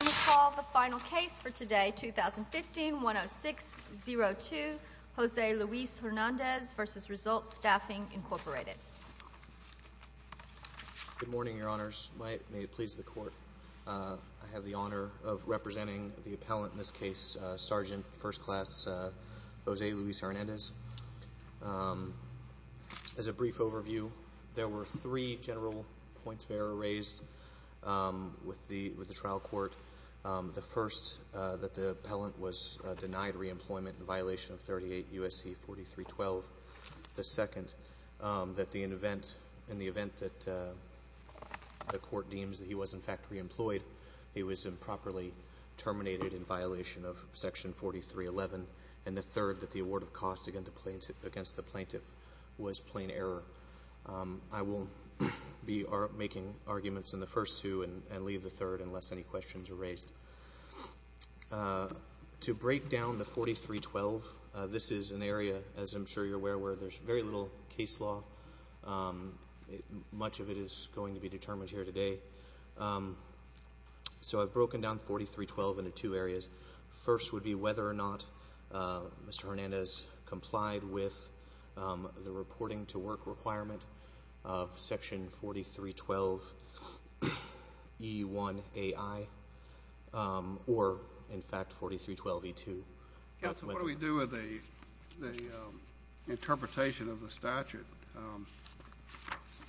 We call the final case for today, 2015-10602, Jose Luis Hernandez v. Results Staffing, Incorporated. Good morning, Your Honors. May it please the Court. I have the honor of representing the appellant in this case, Sergeant 1st Class Jose Luis Hernandez. As a brief overview, there were three general points of error raised with the trial court. The first, that the appellant was denied reemployment in violation of 38 U.S.C. 4312. The second, that in the event that the court deems that he was, in fact, reemployed, he was improperly terminated in violation of Section 4311. And the third, that the award of costs against the plaintiff was plain error. I will be making arguments in the first two and leave the third unless any questions are raised. To break down the 4312, this is an area, as I'm sure you're aware, where there's very little case law. Much of it is going to be determined here today. So I've broken down 4312 into two areas. First would be whether or not Mr. Hernandez complied with the reporting to work requirement of Section 4312E1AI or, in fact, 4312E2. Counsel, what do we do with the interpretation of the statute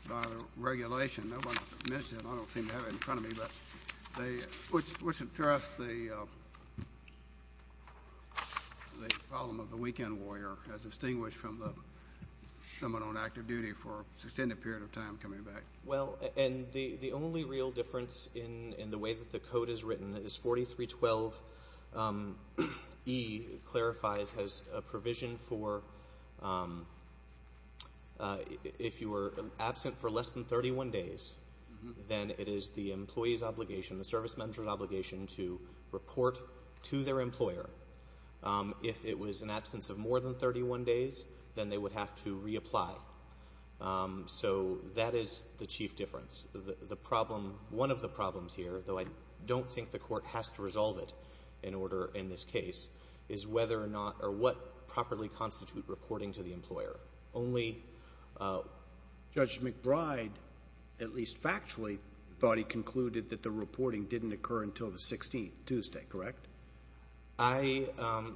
by the regulation? No one mentioned it. I don't seem to have it in front of me. But what's addressed the problem of the weekend warrior as distinguished from someone on active duty for an extended period of time coming back? Well, and the only real difference in the way that the code is written is 4312E clarifies as a provision for if you were absent for less than 31 days, then it is the employee's obligation, the service member's obligation to report to their employer. If it was an absence of more than 31 days, then they would have to reapply. So that is the chief difference. The problem, one of the problems here, though I don't think the court has to resolve it in order in this case, is whether or not or what properly constitute reporting to the employer. Only Judge McBride, at least factually, thought he concluded that the reporting didn't occur until the 16th, Tuesday, correct? I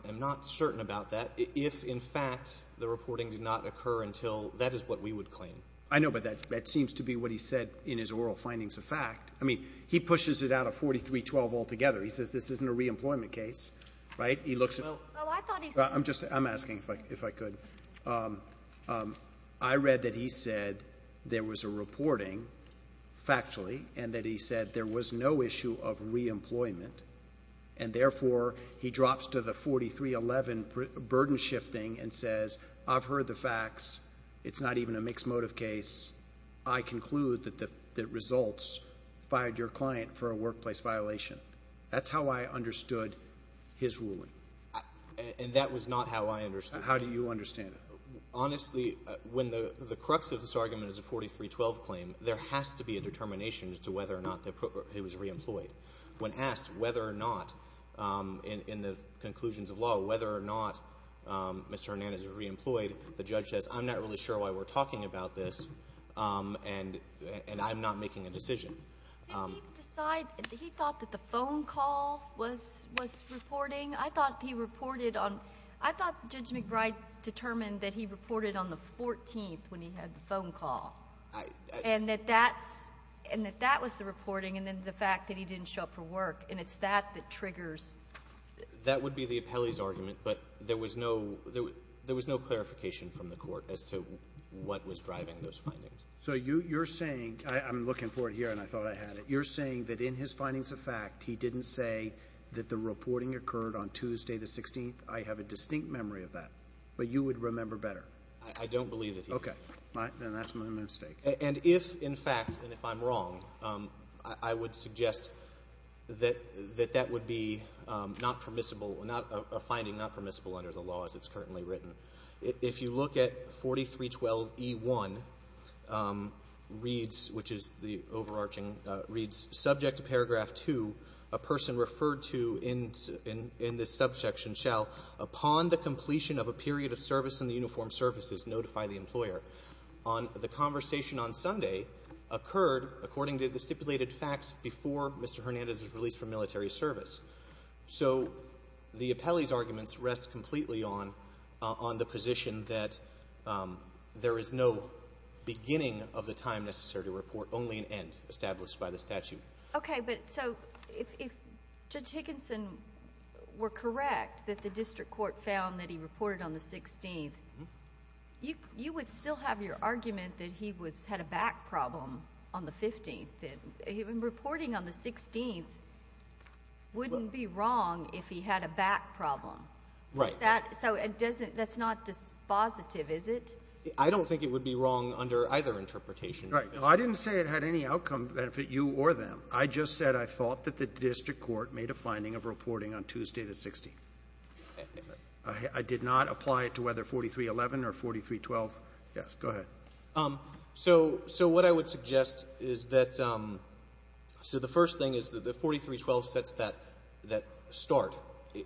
am not certain about that. If, in fact, the reporting did not occur until that is what we would claim. I know, but that seems to be what he said in his oral findings of fact. I mean, he pushes it out of 4312 altogether. He says this isn't a reemployment case, right? He looks at it. I'm asking if I could. I read that he said there was a reporting factually and that he said there was no issue of reemployment, and therefore he drops to the 4311 burden shifting and says I've heard the facts. It's not even a mixed motive case. I conclude that the results fired your client for a workplace violation. That's how I understood his ruling. And that was not how I understood it. How do you understand it? Honestly, when the crux of this argument is a 4312 claim, there has to be a determination as to whether or not he was reemployed. When asked whether or not, in the conclusions of law, whether or not Mr. Hernandez was reemployed, the judge says I'm not really sure why we're talking about this and I'm not making a decision. Did he decide, did he thought that the phone call was reporting? I thought he reported on, I thought Judge McBride determined that he reported on the 14th when he had the phone call. And that that's, and that that was the reporting and then the fact that he didn't show up for work. And it's that that triggers. That would be the appellee's argument, but there was no, there was no clarification from the court as to what was driving those findings. So you're saying, I'm looking for it here and I thought I had it. You're saying that in his findings of fact, he didn't say that the reporting occurred on Tuesday the 16th. I have a distinct memory of that, but you would remember better. I don't believe that he did. Okay. Then that's my mistake. And if, in fact, and if I'm wrong, I would suggest that that would be not permissible, a finding not permissible under the law as it's currently written. If you look at 4312E1 reads, which is the overarching, reads subject to paragraph 2, a person referred to in this subsection shall, upon the completion of a period of service in the uniformed services, notify the employer. The conversation on Sunday occurred, according to the stipulated facts, before Mr. Hernandez was released from military service. So the appellee's arguments rest completely on the position that there is no beginning of the time necessary to report, only an end established by the statute. Okay. But so if Judge Higginson were correct that the district court found that he reported on the 16th, you would still have your argument that he was, had a back problem on the 15th. And reporting on the 16th wouldn't be wrong if he had a back problem. Right. Is that, so it doesn't, that's not dispositive, is it? I don't think it would be wrong under either interpretation. Right. I didn't say it had any outcome to benefit you or them. I just said I thought that the district court made a finding of reporting on Tuesday the 16th. I did not apply it to whether 4311 or 4312. Yes. Go ahead. So what I would suggest is that, so the first thing is that the 4312 sets that start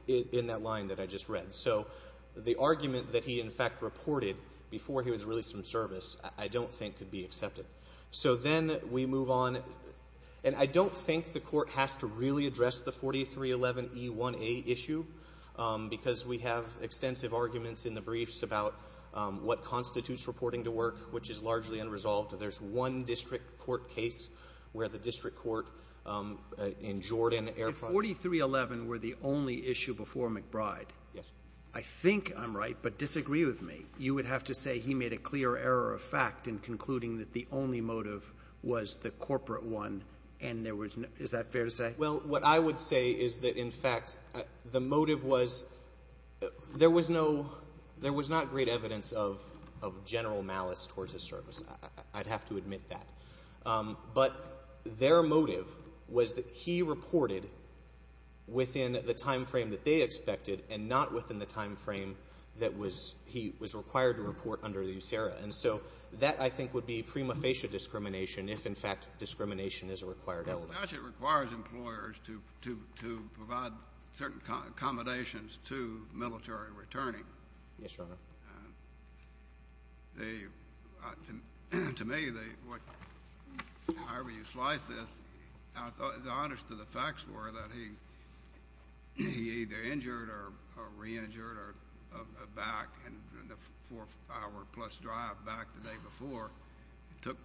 in that line that I just read. So the argument that he, in fact, reported before he was released from service I don't think could be accepted. So then we move on. And I don't think the Court has to really address the 4311E1A issue because we have extensive arguments in the briefs about what constitutes reporting to work, which is largely unresolved. There's one district court case where the district court in Jordan air- If 4311 were the only issue before McBride. Yes. I think I'm right, but disagree with me. You would have to say he made a clear error of fact in concluding that the only motive was the corporate one, and there was no- Is that fair to say? Well, what I would say is that, in fact, the motive was there was no, there was not great evidence of general malice towards his service. I'd have to admit that. But their motive was that he reported within the time frame that they expected and not within the time frame that he was required to report under the USERRA. And so that, I think, would be prima facie discrimination if, in fact, discrimination is a required element. The statute requires employers to provide certain accommodations to military returning. Yes, Your Honor. To me, however you slice this, the honest of the facts were that he either injured or re-injured back in the four-hour-plus drive back the day before, took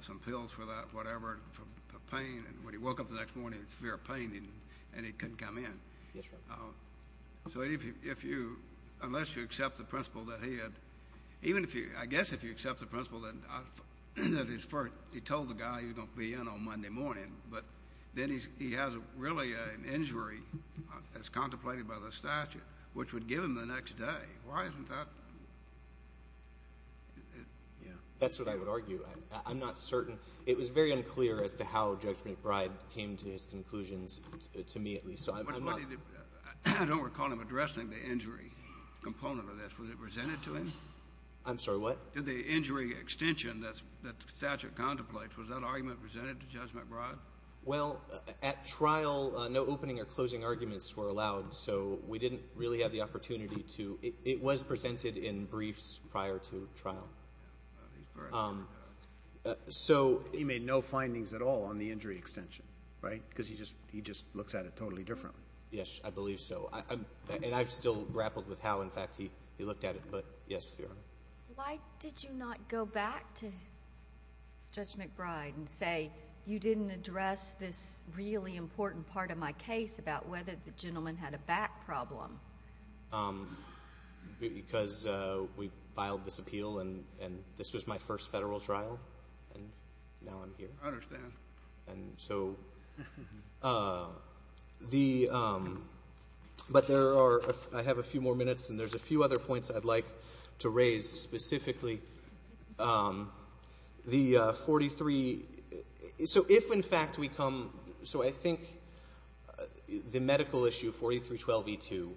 some pills for that, whatever, for pain. And when he woke up the next morning, severe pain, and he couldn't come in. Yes, sir. So if you, unless you accept the principle that he had, even if you, I guess if you accept the principle that he told the guy he was going to be in on Monday morning, but then he has really an injury, as contemplated by the statute, which would give him the next day, why isn't that? That's what I would argue. I'm not certain. It was very unclear as to how Judge McBride came to his conclusions, to me at least. I don't recall him addressing the injury component of this. Was it presented to him? I'm sorry, what? Did the injury extension that the statute contemplates, was that argument presented to Judge McBride? Well, at trial, no opening or closing arguments were allowed. So we didn't really have the opportunity to, it was presented in briefs prior to trial. So he made no findings at all on the injury extension, right? Because he just looks at it totally differently. Yes, I believe so. And I've still grappled with how, in fact, he looked at it. But yes, Your Honor. Why did you not go back to Judge McBride and say, you didn't address this really important part of my case about whether the gentleman had a back problem? Because we filed this appeal, and this was my first federal trial, and now I'm here. I understand. And so the, but there are, I have a few more minutes, and there's a few other points I'd like to raise specifically. The 43, so if, in fact, we come, so I think the medical issue, 4312e2,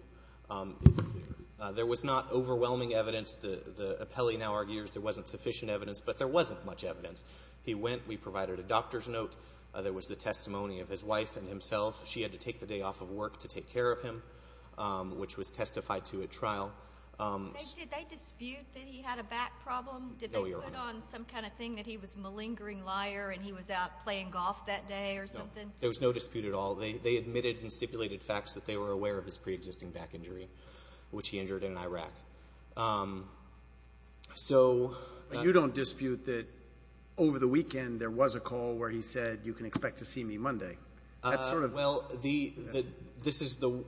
there was not overwhelming evidence. The appellee now argues there wasn't sufficient evidence, but there wasn't much evidence. He went. We provided a doctor's note. There was the testimony of his wife and himself. She had to take the day off of work to take care of him, which was testified to at trial. Did they dispute that he had a back problem? No, Your Honor. Did they put on some kind of thing that he was a malingering liar and he was out playing golf that day or something? No. There was no dispute at all. They admitted and stipulated facts that they were aware of his preexisting back injury, which he injured in Iraq. So you don't dispute that over the weekend there was a call where he said, You can expect to see me Monday. Well, this is the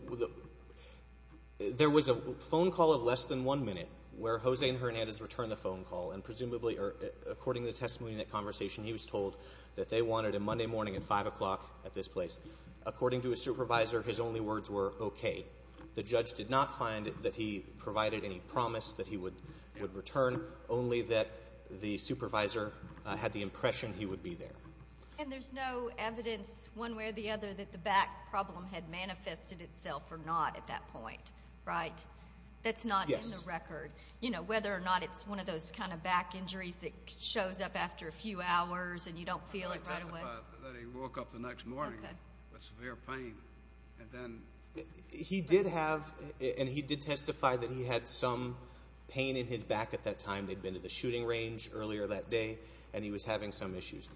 – there was a phone call of less than one minute where Jose and Hernandez returned the phone call, and presumably, according to the testimony in that conversation, he was told that they wanted him Monday morning at 5 o'clock at this place. According to his supervisor, his only words were okay. The judge did not find that he provided any promise that he would return, only that the supervisor had the impression he would be there. And there's no evidence one way or the other that the back problem had manifested itself or not at that point, right? That's not in the record. Yes. You know, whether or not it's one of those kind of back injuries that shows up after a few hours and you don't feel it right away. I did testify that he woke up the next morning with severe pain. And then – He did have – and he did testify that he had some pain in his back at that time. They'd been to the shooting range earlier that day, and he was having some issues.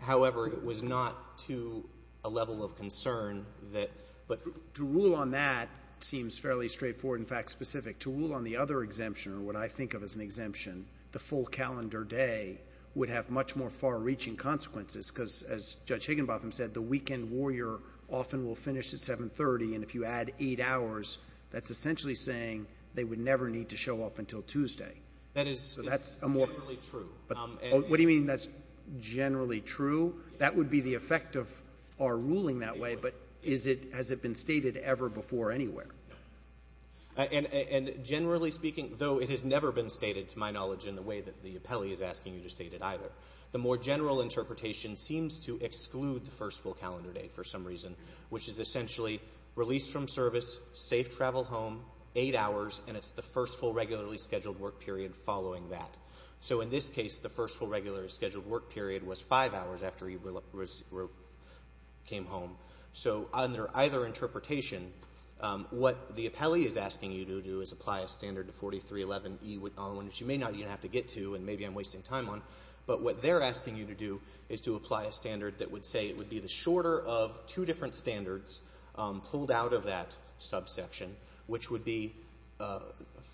However, it was not to a level of concern that – but – To rule on that seems fairly straightforward, in fact, specific. To rule on the other exemption, or what I think of as an exemption, the full calendar day, would have much more far-reaching consequences because, as Judge Higginbotham said, the weekend warrior often will finish at 7.30, and if you add eight hours, that's essentially saying they would never need to show up until Tuesday. That is generally true. What do you mean that's generally true? That would be the effect of our ruling that way, but is it – has it been stated ever before anywhere? No. And generally speaking, though it has never been stated, to my knowledge, in the way that the appellee is asking you to state it either, the more general interpretation seems to exclude the first full calendar day for some reason, which is essentially release from service, safe travel home, eight hours, and it's the first full regularly scheduled work period following that. So, in this case, the first full regularly scheduled work period was five hours after he came home. So, under either interpretation, what the appellee is asking you to do is apply a standard to 4311E on which you may not even have to get to, and maybe I'm wasting time on, but what they're asking you to do is to apply a standard that would say it would be the shorter of two different standards pulled out of that subsection, which would be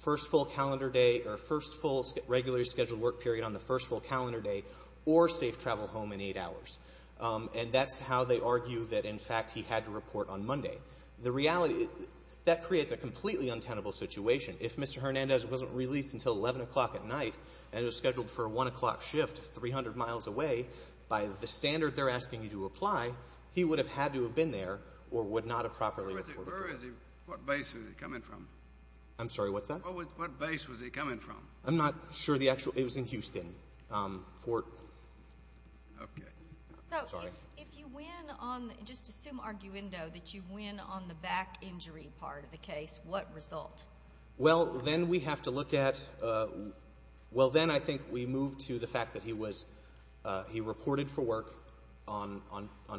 first full calendar day or first full regularly scheduled work period on the first full calendar day or safe travel home in eight hours. And that's how they argue that, in fact, he had to report on Monday. The reality – that creates a completely untenable situation. If Mr. Hernandez wasn't released until 11 o'clock at night and was scheduled for a 1 o'clock shift 300 miles away, by the standard they're asking you to apply, he would have had to have been there or would not have properly reported. Where is he? What base is he coming from? I'm sorry, what's that? What base was he coming from? I'm not sure the actual – it was in Houston. Okay. Sorry. So, if you win on – just assume arguendo that you win on the back injury part of the case, what result? Well, then we have to look at – well, then I think we move to the fact that he was – he reported for work on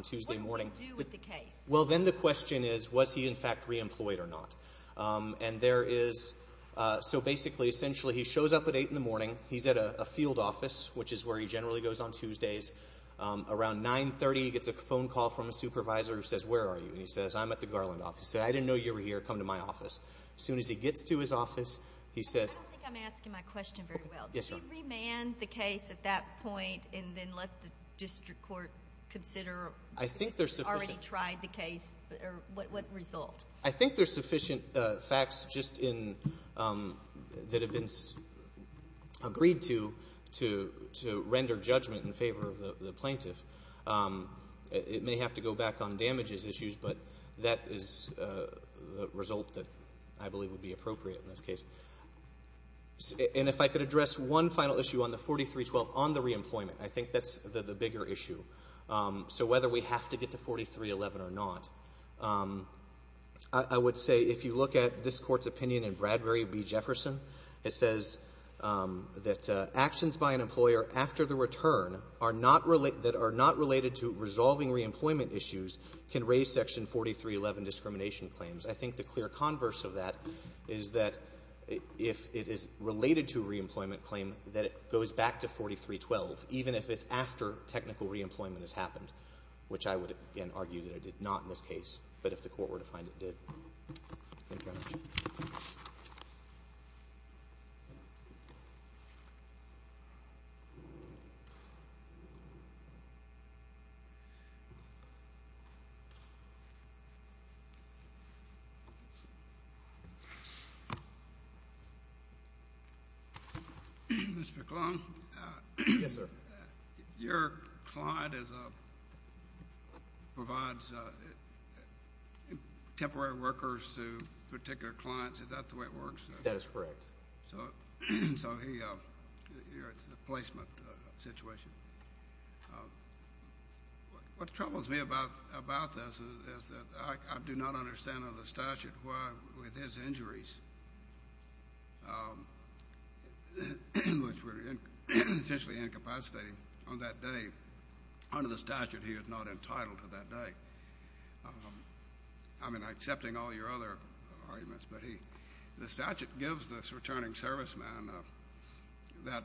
Tuesday morning. What did he do with the case? Well, then the question is, was he, in fact, reemployed or not? And there is – so, basically, essentially, he shows up at 8 in the morning. He's at a field office, which is where he generally goes on Tuesdays. Around 9.30, he gets a phone call from a supervisor who says, where are you? And he says, I'm at the Garland office. He said, I didn't know you were here. Come to my office. As soon as he gets to his office, he says – I don't think I'm asking my question very well. Yes, ma'am. Did he remand the case at that point and then let the district court consider – the case or what result? I think there's sufficient facts just in – that have been agreed to to render judgment in favor of the plaintiff. It may have to go back on damages issues, but that is the result that I believe would be appropriate in this case. And if I could address one final issue on the 4312 on the reemployment, I think that's the bigger issue. So whether we have to get to 4311 or not, I would say if you look at this court's opinion in Bradbury v. Jefferson, it says that actions by an employer after the return that are not related to resolving reemployment issues can raise Section 4311 discrimination claims. I think the clear converse of that is that if it is related to a reemployment claim, that it goes back to 4312, even if it's after technical reemployment has happened, which I would, again, argue that it did not in this case, but if the court were to find it did. Thank you very much. Thank you. Mr. Klond. Yes, sir. Your client provides temporary workers to particular clients. Is that the way it works? That is correct. So you're at the placement situation. What troubles me about this is that I do not understand under the statute why, with his injuries, which were potentially incapacitating on that day, under the statute he is not entitled to that day. I mean, I'm accepting all your other arguments, but the statute gives this returning serviceman that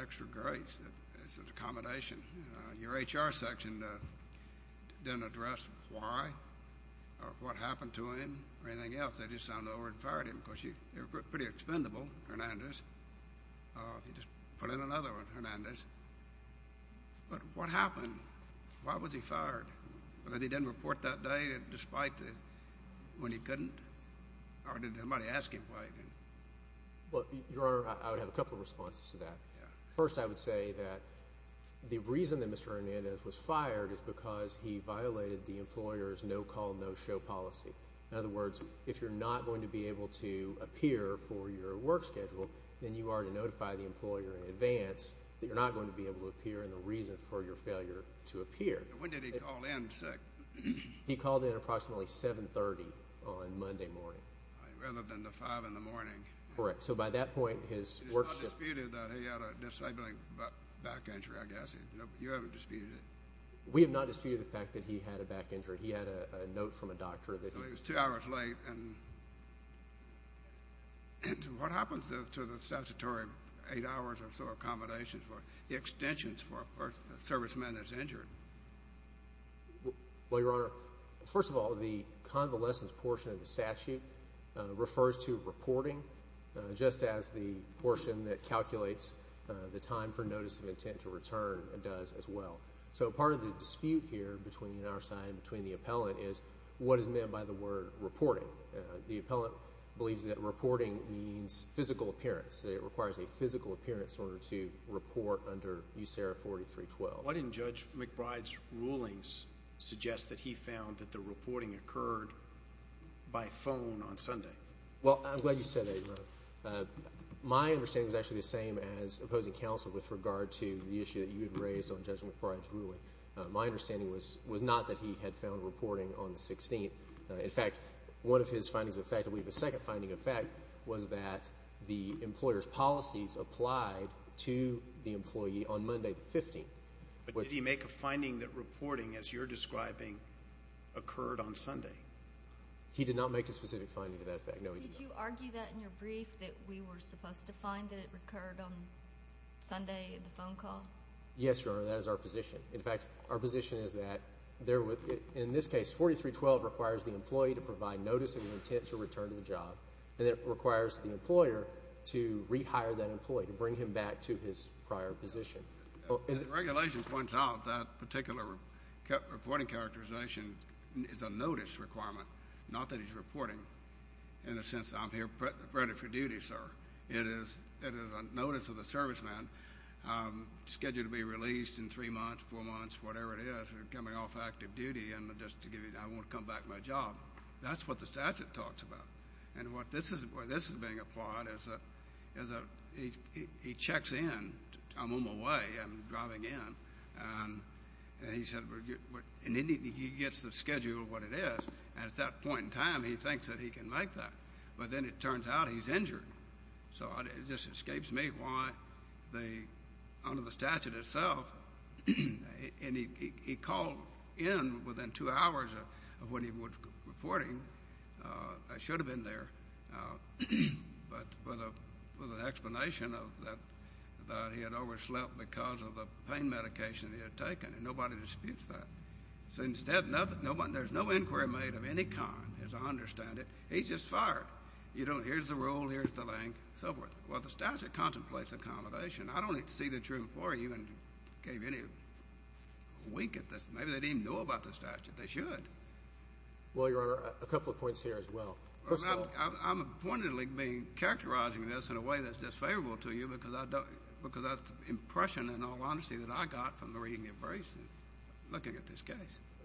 extra grace. It's an accommodation. Your HR section didn't address why or what happened to him or anything else. They just sounded over and fired him because they were pretty expendable, Hernandez. If you just put in another one, Hernandez. But what happened? Why was he fired? Because he didn't report that day despite when he couldn't? Or did somebody ask him why he didn't? Your Honor, I would have a couple of responses to that. First, I would say that the reason that Mr. Hernandez was fired is because he violated the employer's no-call, no-show policy. In other words, if you're not going to be able to appear for your work schedule, then you are to notify the employer in advance that you're not going to be able to appear and the reason for your failure to appear. When did he call in sick? He called in approximately 7.30 on Monday morning. Rather than the 5 in the morning. Correct. So by that point, his work schedule. It's not disputed that he had a disabling back injury, I guess. You haven't disputed it? We have not disputed the fact that he had a back injury. He had a note from a doctor. So he was two hours late and what happens to the statutory eight hours or so accommodations for the extensions for a serviceman that's injured? Well, Your Honor, first of all, the convalescence portion of the statute refers to reporting just as the portion that calculates the time for notice of intent to return does as well. So part of the dispute here between our side and between the appellant is what is meant by the word reporting. The appellant believes that reporting means physical appearance. It requires a physical appearance in order to report under USARA 4312. Why didn't Judge McBride's rulings suggest that he found that the reporting occurred by phone on Sunday? My understanding is actually the same as opposing counsel with regard to the issue that you had raised on Judge McBride's ruling. My understanding was not that he had found reporting on the 16th. In fact, one of his findings effectively, the second finding, in fact, was that the employer's policies applied to the employee on Monday, the 15th. But did he make a finding that reporting, as you're describing, occurred on Sunday? He did not make a specific finding to that effect. Did you argue that in your brief that we were supposed to find that it occurred on Sunday in the phone call? Yes, Your Honor. That is our position. In fact, our position is that in this case, 4312 requires the employee to provide notice of intent to return to the job, and it requires the employer to rehire that employee, to bring him back to his prior position. As the regulation points out, that particular reporting characterization is a notice requirement, not that he's reporting. In a sense, I'm here ready for duty, sir. It is a notice of the serviceman scheduled to be released in three months, four months, whatever it is, coming off active duty and just to give you, I want to come back to my job. That's what the statute talks about. And what this is being applied is that he checks in. I'm on my way. I'm driving in. And he gets the schedule of what it is. And at that point in time, he thinks that he can make that. But then it turns out he's injured. So it just escapes me why they, under the statute itself, and he called in within two hours of when he was reporting. I should have been there. But with an explanation of that he had overslept because of the pain medication he had taken. And nobody disputes that. So instead, there's no inquiry made of any kind, as I understand it. He's just fired. Here's the rule. Here's the link, so forth. Well, the statute contemplates accommodation. I don't need to see the truth for you and give you any wink at this. Maybe they didn't even know about the statute. They should. Well, Your Honor, a couple of points here as well. First of all, I'm appointedly characterizing this in a way that's disfavorable to you because that's the impression, in all honesty, that I got from reading your briefs and looking at this case.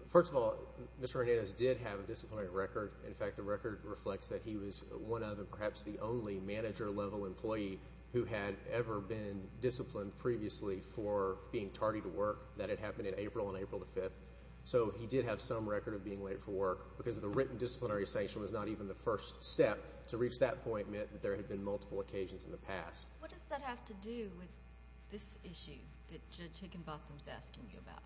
First of all, Mr. Hernandez did have a disciplinary record. In fact, the record reflects that he was one of and perhaps the only manager-level employee who had ever been disciplined previously for being tardy to work. That had happened in April and April the 5th. So he did have some record of being late for work because the written disciplinary sanction was not even the first step. To reach that point meant that there had been multiple occasions in the past. What does that have to do with this issue that Judge Higginbotham is asking you about?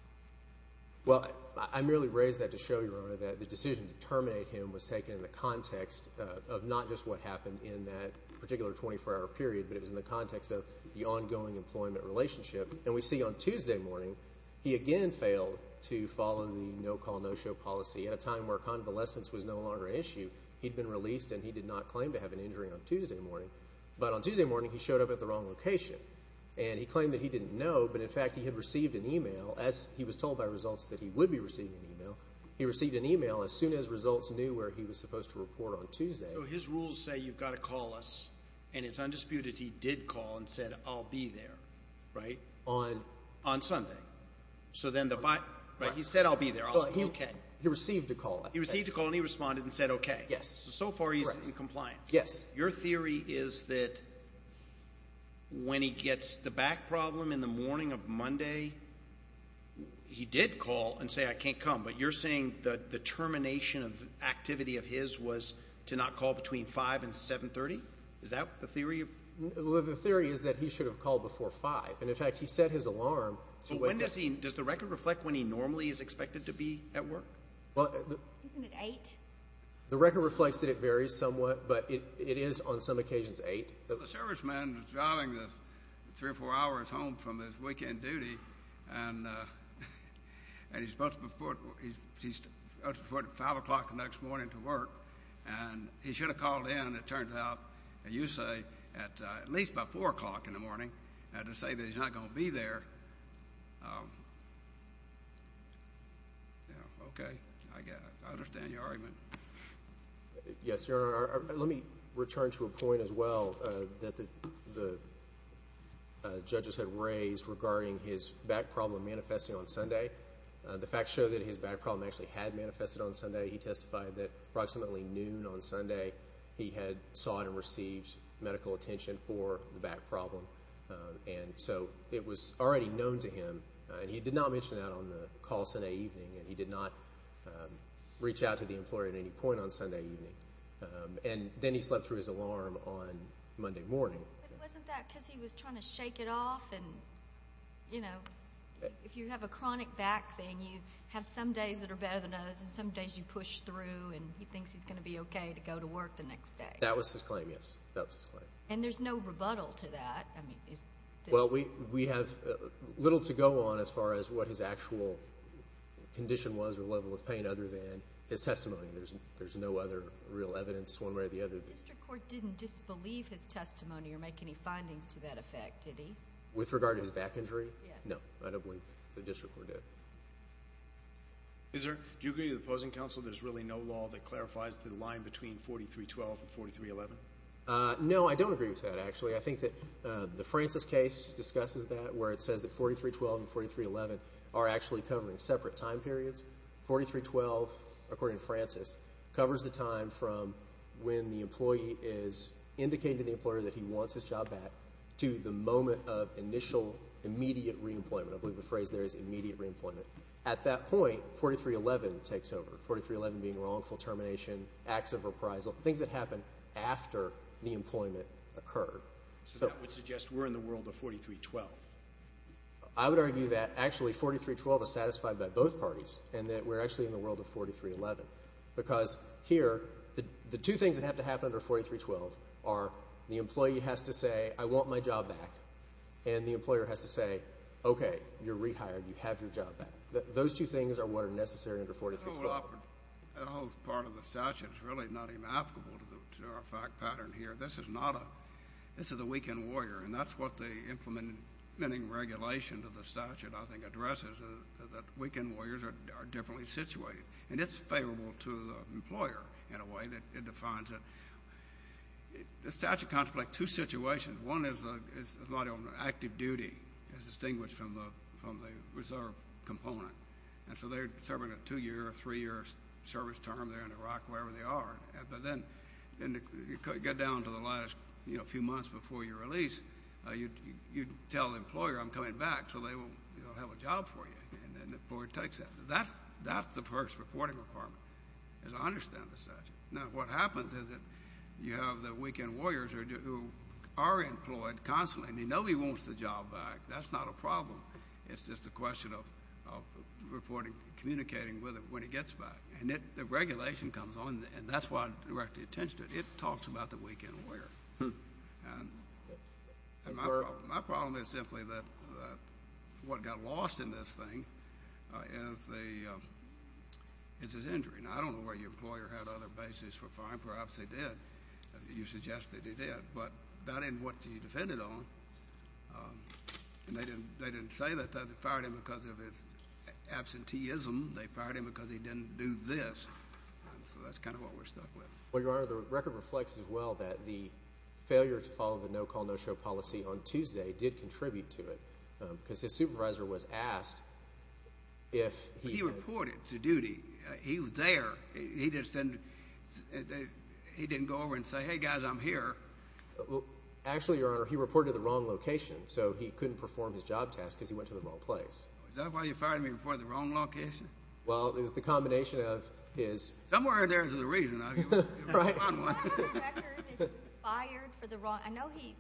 Well, I merely raised that to show you, Your Honor, that the decision to terminate him was taken in the context of not just what happened in that particular 24-hour period, but it was in the context of the ongoing employment relationship. And we see on Tuesday morning he again failed to follow the no-call, no-show policy. At a time where convalescence was no longer an issue, he'd been released and he did not claim to have an injury on Tuesday morning. But on Tuesday morning he showed up at the wrong location, and he claimed that he didn't know, but in fact he had received an e-mail as he was told by results that he would be receiving an e-mail. He received an e-mail as soon as results knew where he was supposed to report on Tuesday. So his rules say you've got to call us, and it's undisputed he did call and said I'll be there, right? On Sunday. So then the – he said I'll be there, I'll be okay. He received a call. He received a call and he responded and said okay. Yes. So far he's in compliance. Yes. Your theory is that when he gets the back problem in the morning of Monday he did call and say I can't come, but you're saying the termination of activity of his was to not call between 5 and 7.30? Is that the theory? The theory is that he should have called before 5, and in fact he set his alarm. Does the record reflect when he normally is expected to be at work? Isn't it 8? The record reflects that it varies somewhat, but it is on some occasions 8. The serviceman is driving three or four hours home from his weekend duty, and he's supposed to report at 5 o'clock the next morning to work, and he should have called in, and it turns out, you say, at least by 4 o'clock in the morning, and to say that he's not going to be there, yeah, okay, I understand your argument. Yes, Your Honor. Let me return to a point as well that the judges had raised regarding his back problem manifesting on Sunday. The facts show that his back problem actually had manifested on Sunday. He testified that approximately noon on Sunday he had sought and received medical attention for the back problem, and so it was already known to him, and he did not mention that on the call Sunday evening, and he did not reach out to the employer at any point on Sunday evening, and then he slept through his alarm on Monday morning. But wasn't that because he was trying to shake it off, and, you know, if you have a chronic back thing, you have some days that are better than others, and some days you push through, and he thinks he's going to be okay to go to work the next day. That was his claim, yes. That was his claim. And there's no rebuttal to that? Well, we have little to go on as far as what his actual condition was or level of pain other than his testimony. There's no other real evidence one way or the other. But the district court didn't disbelieve his testimony or make any findings to that effect, did he? With regard to his back injury? Yes. No, I don't believe the district court did. Mr. Zier, do you agree with the opposing counsel there's really no law that clarifies the line between 4312 and 4311? No, I don't agree with that, actually. I think that the Francis case discusses that where it says that 4312 and 4311 are actually covering separate time periods. 4312, according to Francis, covers the time from when the employee is indicating to the employer that he wants his job back to the moment of initial immediate reemployment. I believe the phrase there is immediate reemployment. At that point, 4311 takes over, 4311 being wrongful termination, acts of reprisal, things that happen after the employment occur. So that would suggest we're in the world of 4312. I would argue that actually 4312 is satisfied by both parties and that we're actually in the world of 4311 because here the two things that have to happen under 4312 are the employee has to say, I want my job back, and the employer has to say, okay, you're rehired, you have your job back. Those two things are what are necessary under 4312. The whole part of the statute is really not even applicable to our fact pattern here. This is not a this is a weekend warrior, and that's what the implementing regulation to the statute, I think, addresses is that weekend warriors are differently situated. And it's favorable to the employer in a way that it defines it. The statute contemplates two situations. One is a lot of active duty as distinguished from the reserve component. And so they're serving a two-year or three-year service term there in Iraq, wherever they are. But then you get down to the last, you know, few months before your release, you tell the employer I'm coming back so they will have a job for you. And the employer takes that. That's the first reporting requirement, as I understand the statute. Now, what happens is that you have the weekend warriors who are employed constantly. I mean, nobody wants the job back. That's not a problem. It's just a question of reporting, communicating with it when it gets back. And the regulation comes on, and that's why I direct the attention to it. It talks about the weekend warrior. And my problem is simply that what got lost in this thing is his injury. Now, I don't know whether your employer had other basis for firing. Perhaps he did. You suggest that he did. But that isn't what he defended on. And they didn't say that they fired him because of his absenteeism. They fired him because he didn't do this. So that's kind of what we're stuck with. Well, Your Honor, the record reflects as well that the failure to follow the no-call, no-show policy on Tuesday did contribute to it because his supervisor was asked if he had. But he reported to duty. He was there. He didn't go over and say, Hey, guys, I'm here. Actually, Your Honor, he reported to the wrong location, so he couldn't perform his job task because he went to the wrong place. Is that why you fired him? He reported to the wrong location? Well, it was the combination of his. Somewhere there's a reason. Right. I know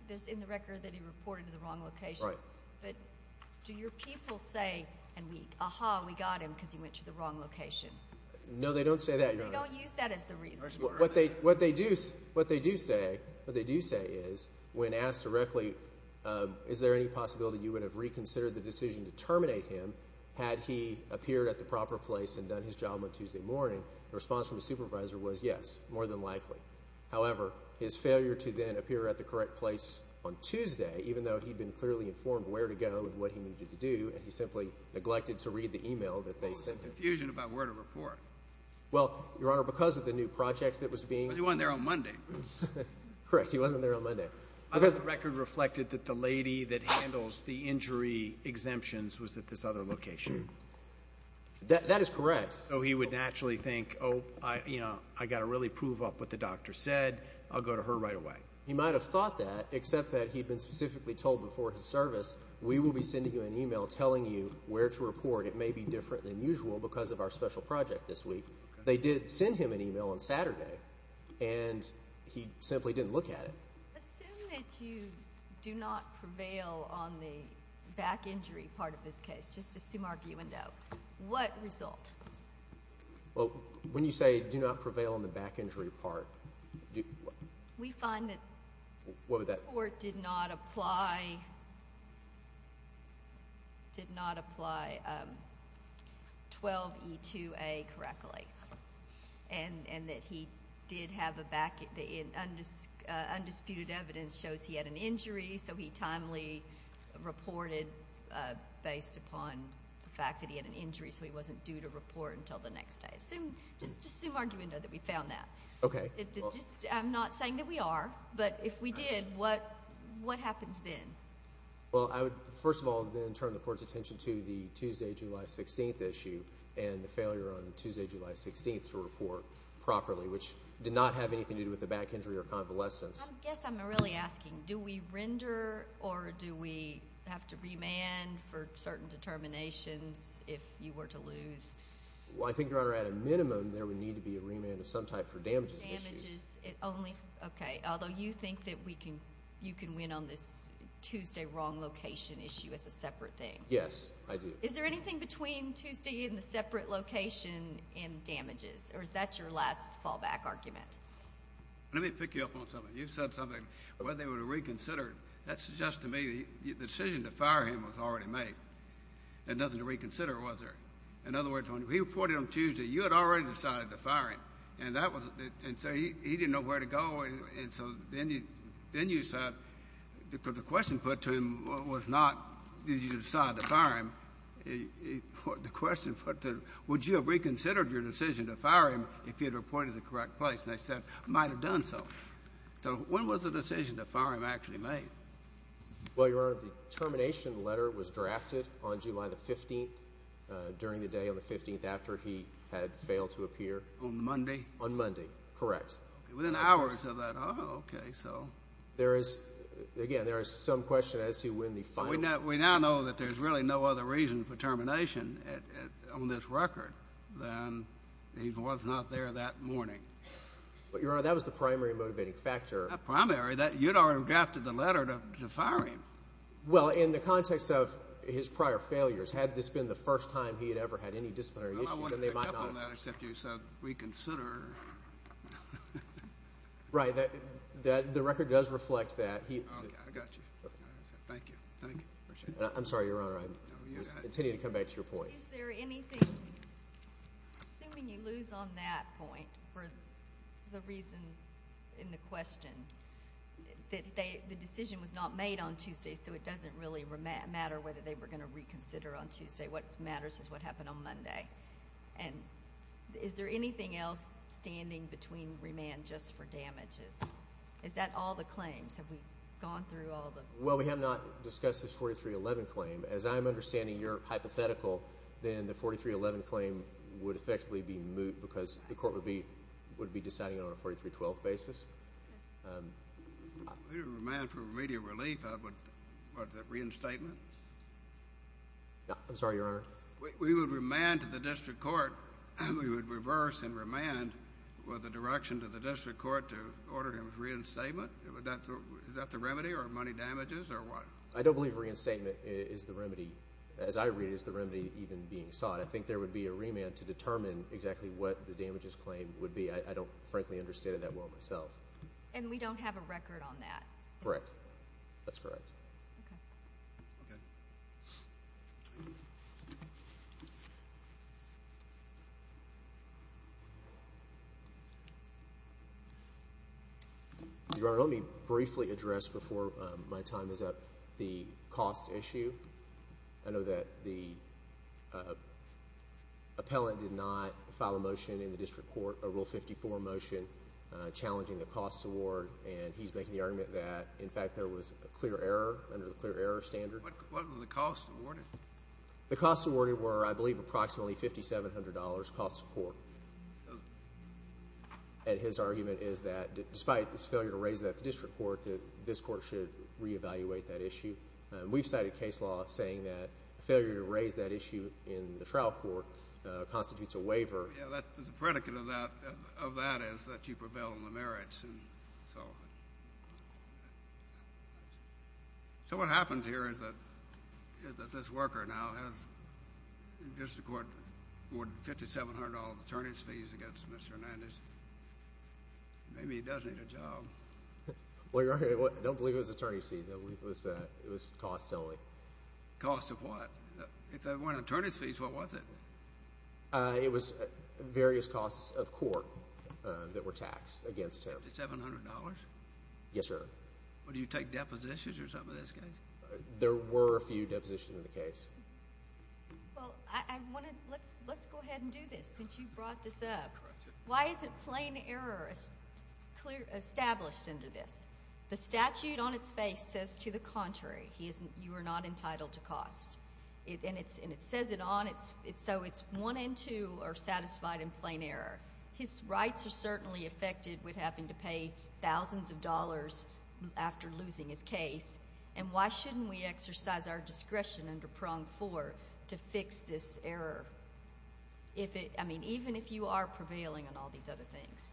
there's in the record that he reported to the wrong location. Right. But do your people say, Aha, we got him because he went to the wrong location? No, they don't say that, Your Honor. They don't use that as the reason. What they do say is when asked directly, is there any possibility you would have reconsidered the decision to terminate him had he appeared at the proper place and done his job on Tuesday morning, the response from his supervisor was yes, more than likely. However, his failure to then appear at the correct place on Tuesday, even though he'd been clearly informed where to go and what he needed to do, and he simply neglected to read the email that they sent him. There was confusion about where to report. Well, Your Honor, because of the new project that was being. But he wasn't there on Monday. Correct. He wasn't there on Monday. The record reflected that the lady that handles the injury exemptions was at this other location. That is correct. So he would naturally think, Oh, I got to really prove up what the doctor said. I'll go to her right away. He might have thought that, except that he'd been specifically told before his service, we will be sending you an email telling you where to report. It may be different than usual because of our special project this week. They did send him an email on Saturday, and he simply didn't look at it. Assume that you do not prevail on the back injury part of this case. Just assume, argue, and doubt. What result? Well, when you say do not prevail on the back injury part. We find that the court did not apply. Did not apply 12E2A correctly, and that he did have undisputed evidence shows he had an injury, so he timely reported based upon the fact that he had an injury, so he wasn't due to report until the next day. Just assume, argue, and know that we found that. Okay. I'm not saying that we are. But if we did, what happens then? Well, I would, first of all, then turn the court's attention to the Tuesday, July 16th issue and the failure on Tuesday, July 16th to report properly, which did not have anything to do with the back injury or convalescence. I guess I'm really asking, do we render, or do we have to remand for certain determinations if you were to lose? Well, I think, Your Honor, at a minimum, there would need to be a remand of some type for damages issues. Okay. Although you think that you can win on this Tuesday wrong location issue as a separate thing. Yes, I do. Is there anything between Tuesday and the separate location in damages, or is that your last fallback argument? Let me pick you up on something. You said something, whether they were reconsidered. That suggests to me the decision to fire him was already made. There was nothing to reconsider, was there? In other words, when he reported on Tuesday, you had already decided to fire him, and so he didn't know where to go, and so then you said, because the question put to him was not did you decide to fire him. The question put to him, would you have reconsidered your decision to fire him if you had reported the correct place? And they said, might have done so. So when was the decision to fire him actually made? Well, Your Honor, the termination letter was drafted on July 15th, during the day on the 15th after he had failed to appear. On Monday? On Monday, correct. Within hours of that. Oh, okay, so. There is, again, there is some question as to when the final. We now know that there's really no other reason for termination on this record than he was not there that morning. But, Your Honor, that was the primary motivating factor. Not primary. You had already drafted the letter to fire him. Well, in the context of his prior failures, had this been the first time he had ever had any disciplinary issues, then they might not have. I want to pick up on that, except you said reconsider. Right. The record does reflect that. Okay, I got you. Thank you. Thank you. I'm sorry, Your Honor, I continue to come back to your point. Is there anything, assuming you lose on that point, for the reason in the question, that the decision was not made on Tuesday, so it doesn't really matter whether they were going to reconsider on Tuesday. What matters is what happened on Monday. And is there anything else standing between remand just for damages? Is that all the claims? Have we gone through all the claims? Well, we have not discussed this 4311 claim. As I'm understanding your hypothetical, then the 4311 claim would effectively be moot because the court would be deciding it on a 4312 basis. Remand for remedial relief, was that reinstatement? I'm sorry, Your Honor. We would remand to the district court. We would reverse and remand with a direction to the district court to order him reinstatement? Is that the remedy or money damages or what? I don't believe reinstatement is the remedy. As I read it, it's the remedy even being sought. I think there would be a remand to determine exactly what the damages claim would be. I don't, frankly, understand it that well myself. And we don't have a record on that. Correct. That's correct. Okay. Okay. Your Honor, let me briefly address before my time is up the costs issue. I know that the appellant did not file a motion in the district court, a Rule 54 motion, challenging the costs award. And he's making the argument that, in fact, there was a clear error under the clear error standard. What were the costs awarded? The costs awarded were, I believe, approximately $5,700 costs of court. And his argument is that despite his failure to raise that at the district court, that this court should reevaluate that issue. We've cited case law saying that failure to raise that issue in the trial court constitutes a waiver. Yeah, the predicate of that is that you prevail on the merits. And so what happens here is that this worker now has district court awarded $5,700 attorney's fees against Mr. Hernandez. Maybe he does need a job. Well, Your Honor, I don't believe it was attorney's fees. It was costs only. Costs of what? If it weren't attorney's fees, what was it? It was various costs of court that were taxed against him. $5,700? Yes, sir. Well, do you take depositions or something in this case? There were a few depositions in the case. Well, I want to – let's go ahead and do this since you brought this up. Why isn't plain error established under this? The statute on its face says, to the contrary, you are not entitled to cost. And it says it on, so it's one and two are satisfied in plain error. His rights are certainly affected with having to pay thousands of dollars after losing his case. And why shouldn't we exercise our discretion under prong four to fix this error? I mean, even if you are prevailing on all these other things.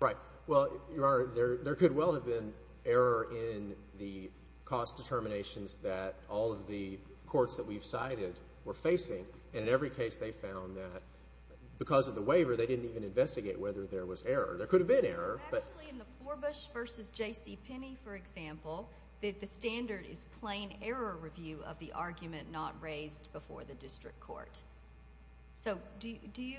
Right. Well, Your Honor, there could well have been error in the cost determinations that all of the courts that we've cited were facing. And in every case they found that because of the waiver, they didn't even investigate whether there was error. There could have been error. Actually, in the Forbush v. J.C. Penney, for example, the standard is plain error review of the argument not raised before the district court. So do you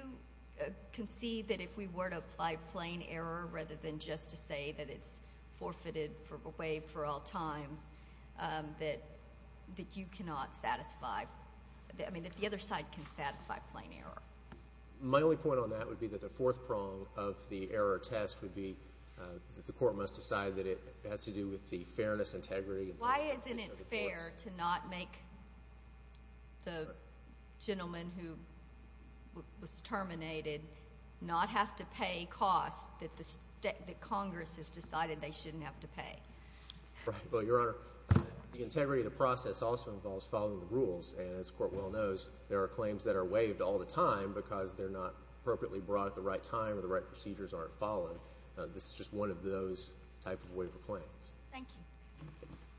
concede that if we were to apply plain error rather than just to say that it's forfeited, waived for all times, that you cannot satisfy, I mean, that the other side can satisfy plain error? My only point on that would be that the fourth prong of the error test would be that the court must decide that it has to do with the fairness, Why isn't it fair to not make the gentleman who was terminated not have to pay costs that Congress has decided they shouldn't have to pay? Well, Your Honor, the integrity of the process also involves following the rules. And as the Court well knows, there are claims that are waived all the time because they're not appropriately brought at the right time or the right procedures aren't followed. This is just one of those types of waiver claims. Thank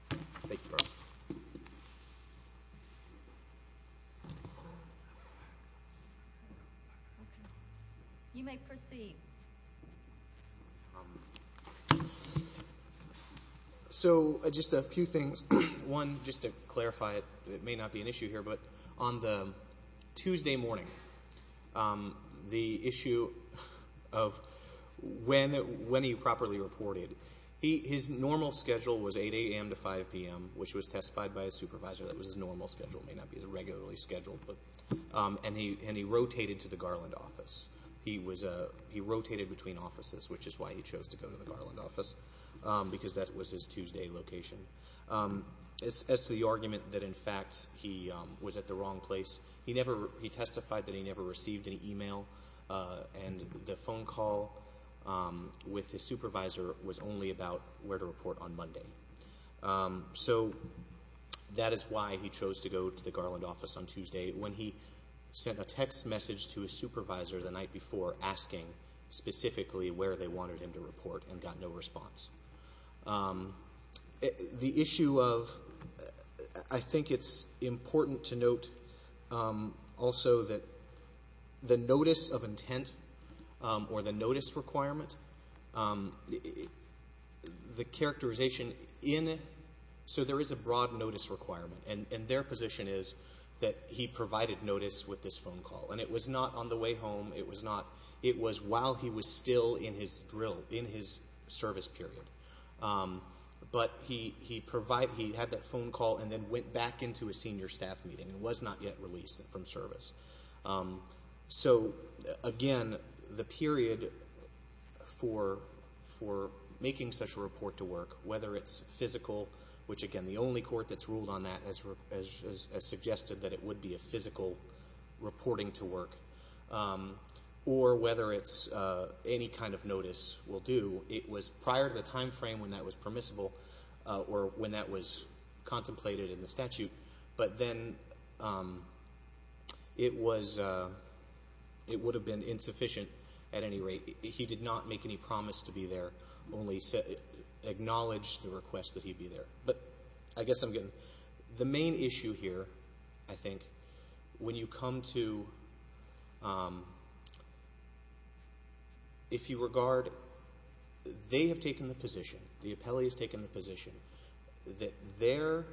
you. You may proceed. So just a few things. One, just to clarify it, it may not be an issue here, but on the Tuesday morning, the issue of when he properly reported, his normal schedule was 8 a.m. to 5 p.m., which was testified by his supervisor. That was his normal schedule. It may not be his regularly scheduled. And he rotated to the Garland office. He rotated between offices, which is why he chose to go to the Garland office, because that was his Tuesday location. As to the argument that, in fact, he was at the wrong place, he testified that he never received an e-mail, and the phone call with his supervisor was only about where to report on Monday. So that is why he chose to go to the Garland office on Tuesday, when he sent a text message to his supervisor the night before asking specifically where they wanted him to report and got no response. The issue of, I think it's important to note also that the notice of intent or the notice requirement, the characterization in it, so there is a broad notice requirement, and their position is that he provided notice with this phone call. And it was not on the way home. It was not. It was while he was still in his drill, in his service period. But he had that phone call and then went back into a senior staff meeting and was not yet released from service. So, again, the period for making such a report to work, whether it's physical, which, again, the only court that's ruled on that has suggested that it would be a physical reporting to work, or whether it's any kind of notice will do, it was prior to the time frame when that was permissible or when that was contemplated in the statute, but then it would have been insufficient at any rate. He did not make any promise to be there, only acknowledged the request that he be there. But I guess I'm getting the main issue here, I think, when you come to if you regard they have taken the position, the appellee has taken the position that their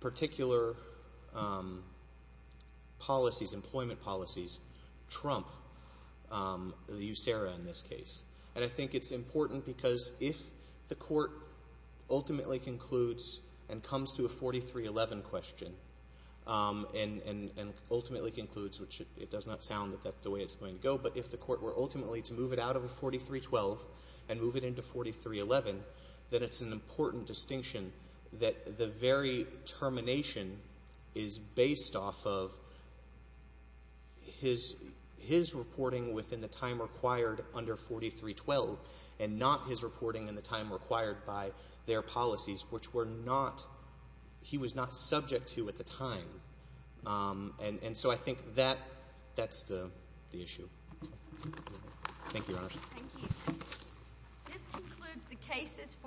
particular policies, employment policies, trump the USERRA in this case. And I think it's important because if the court ultimately concludes and comes to a 4311 question and ultimately concludes, which it does not sound that that's the way it's going to go, but if the court were ultimately to move it out of a 4312 and move it into 4311, that it's an important distinction that the very termination is based off of his reporting within the time required under 4312 and not his reporting in the time required by their policies, which he was not subject to at the time. And so I think that's the issue. Thank you, Your Honors. Thank you.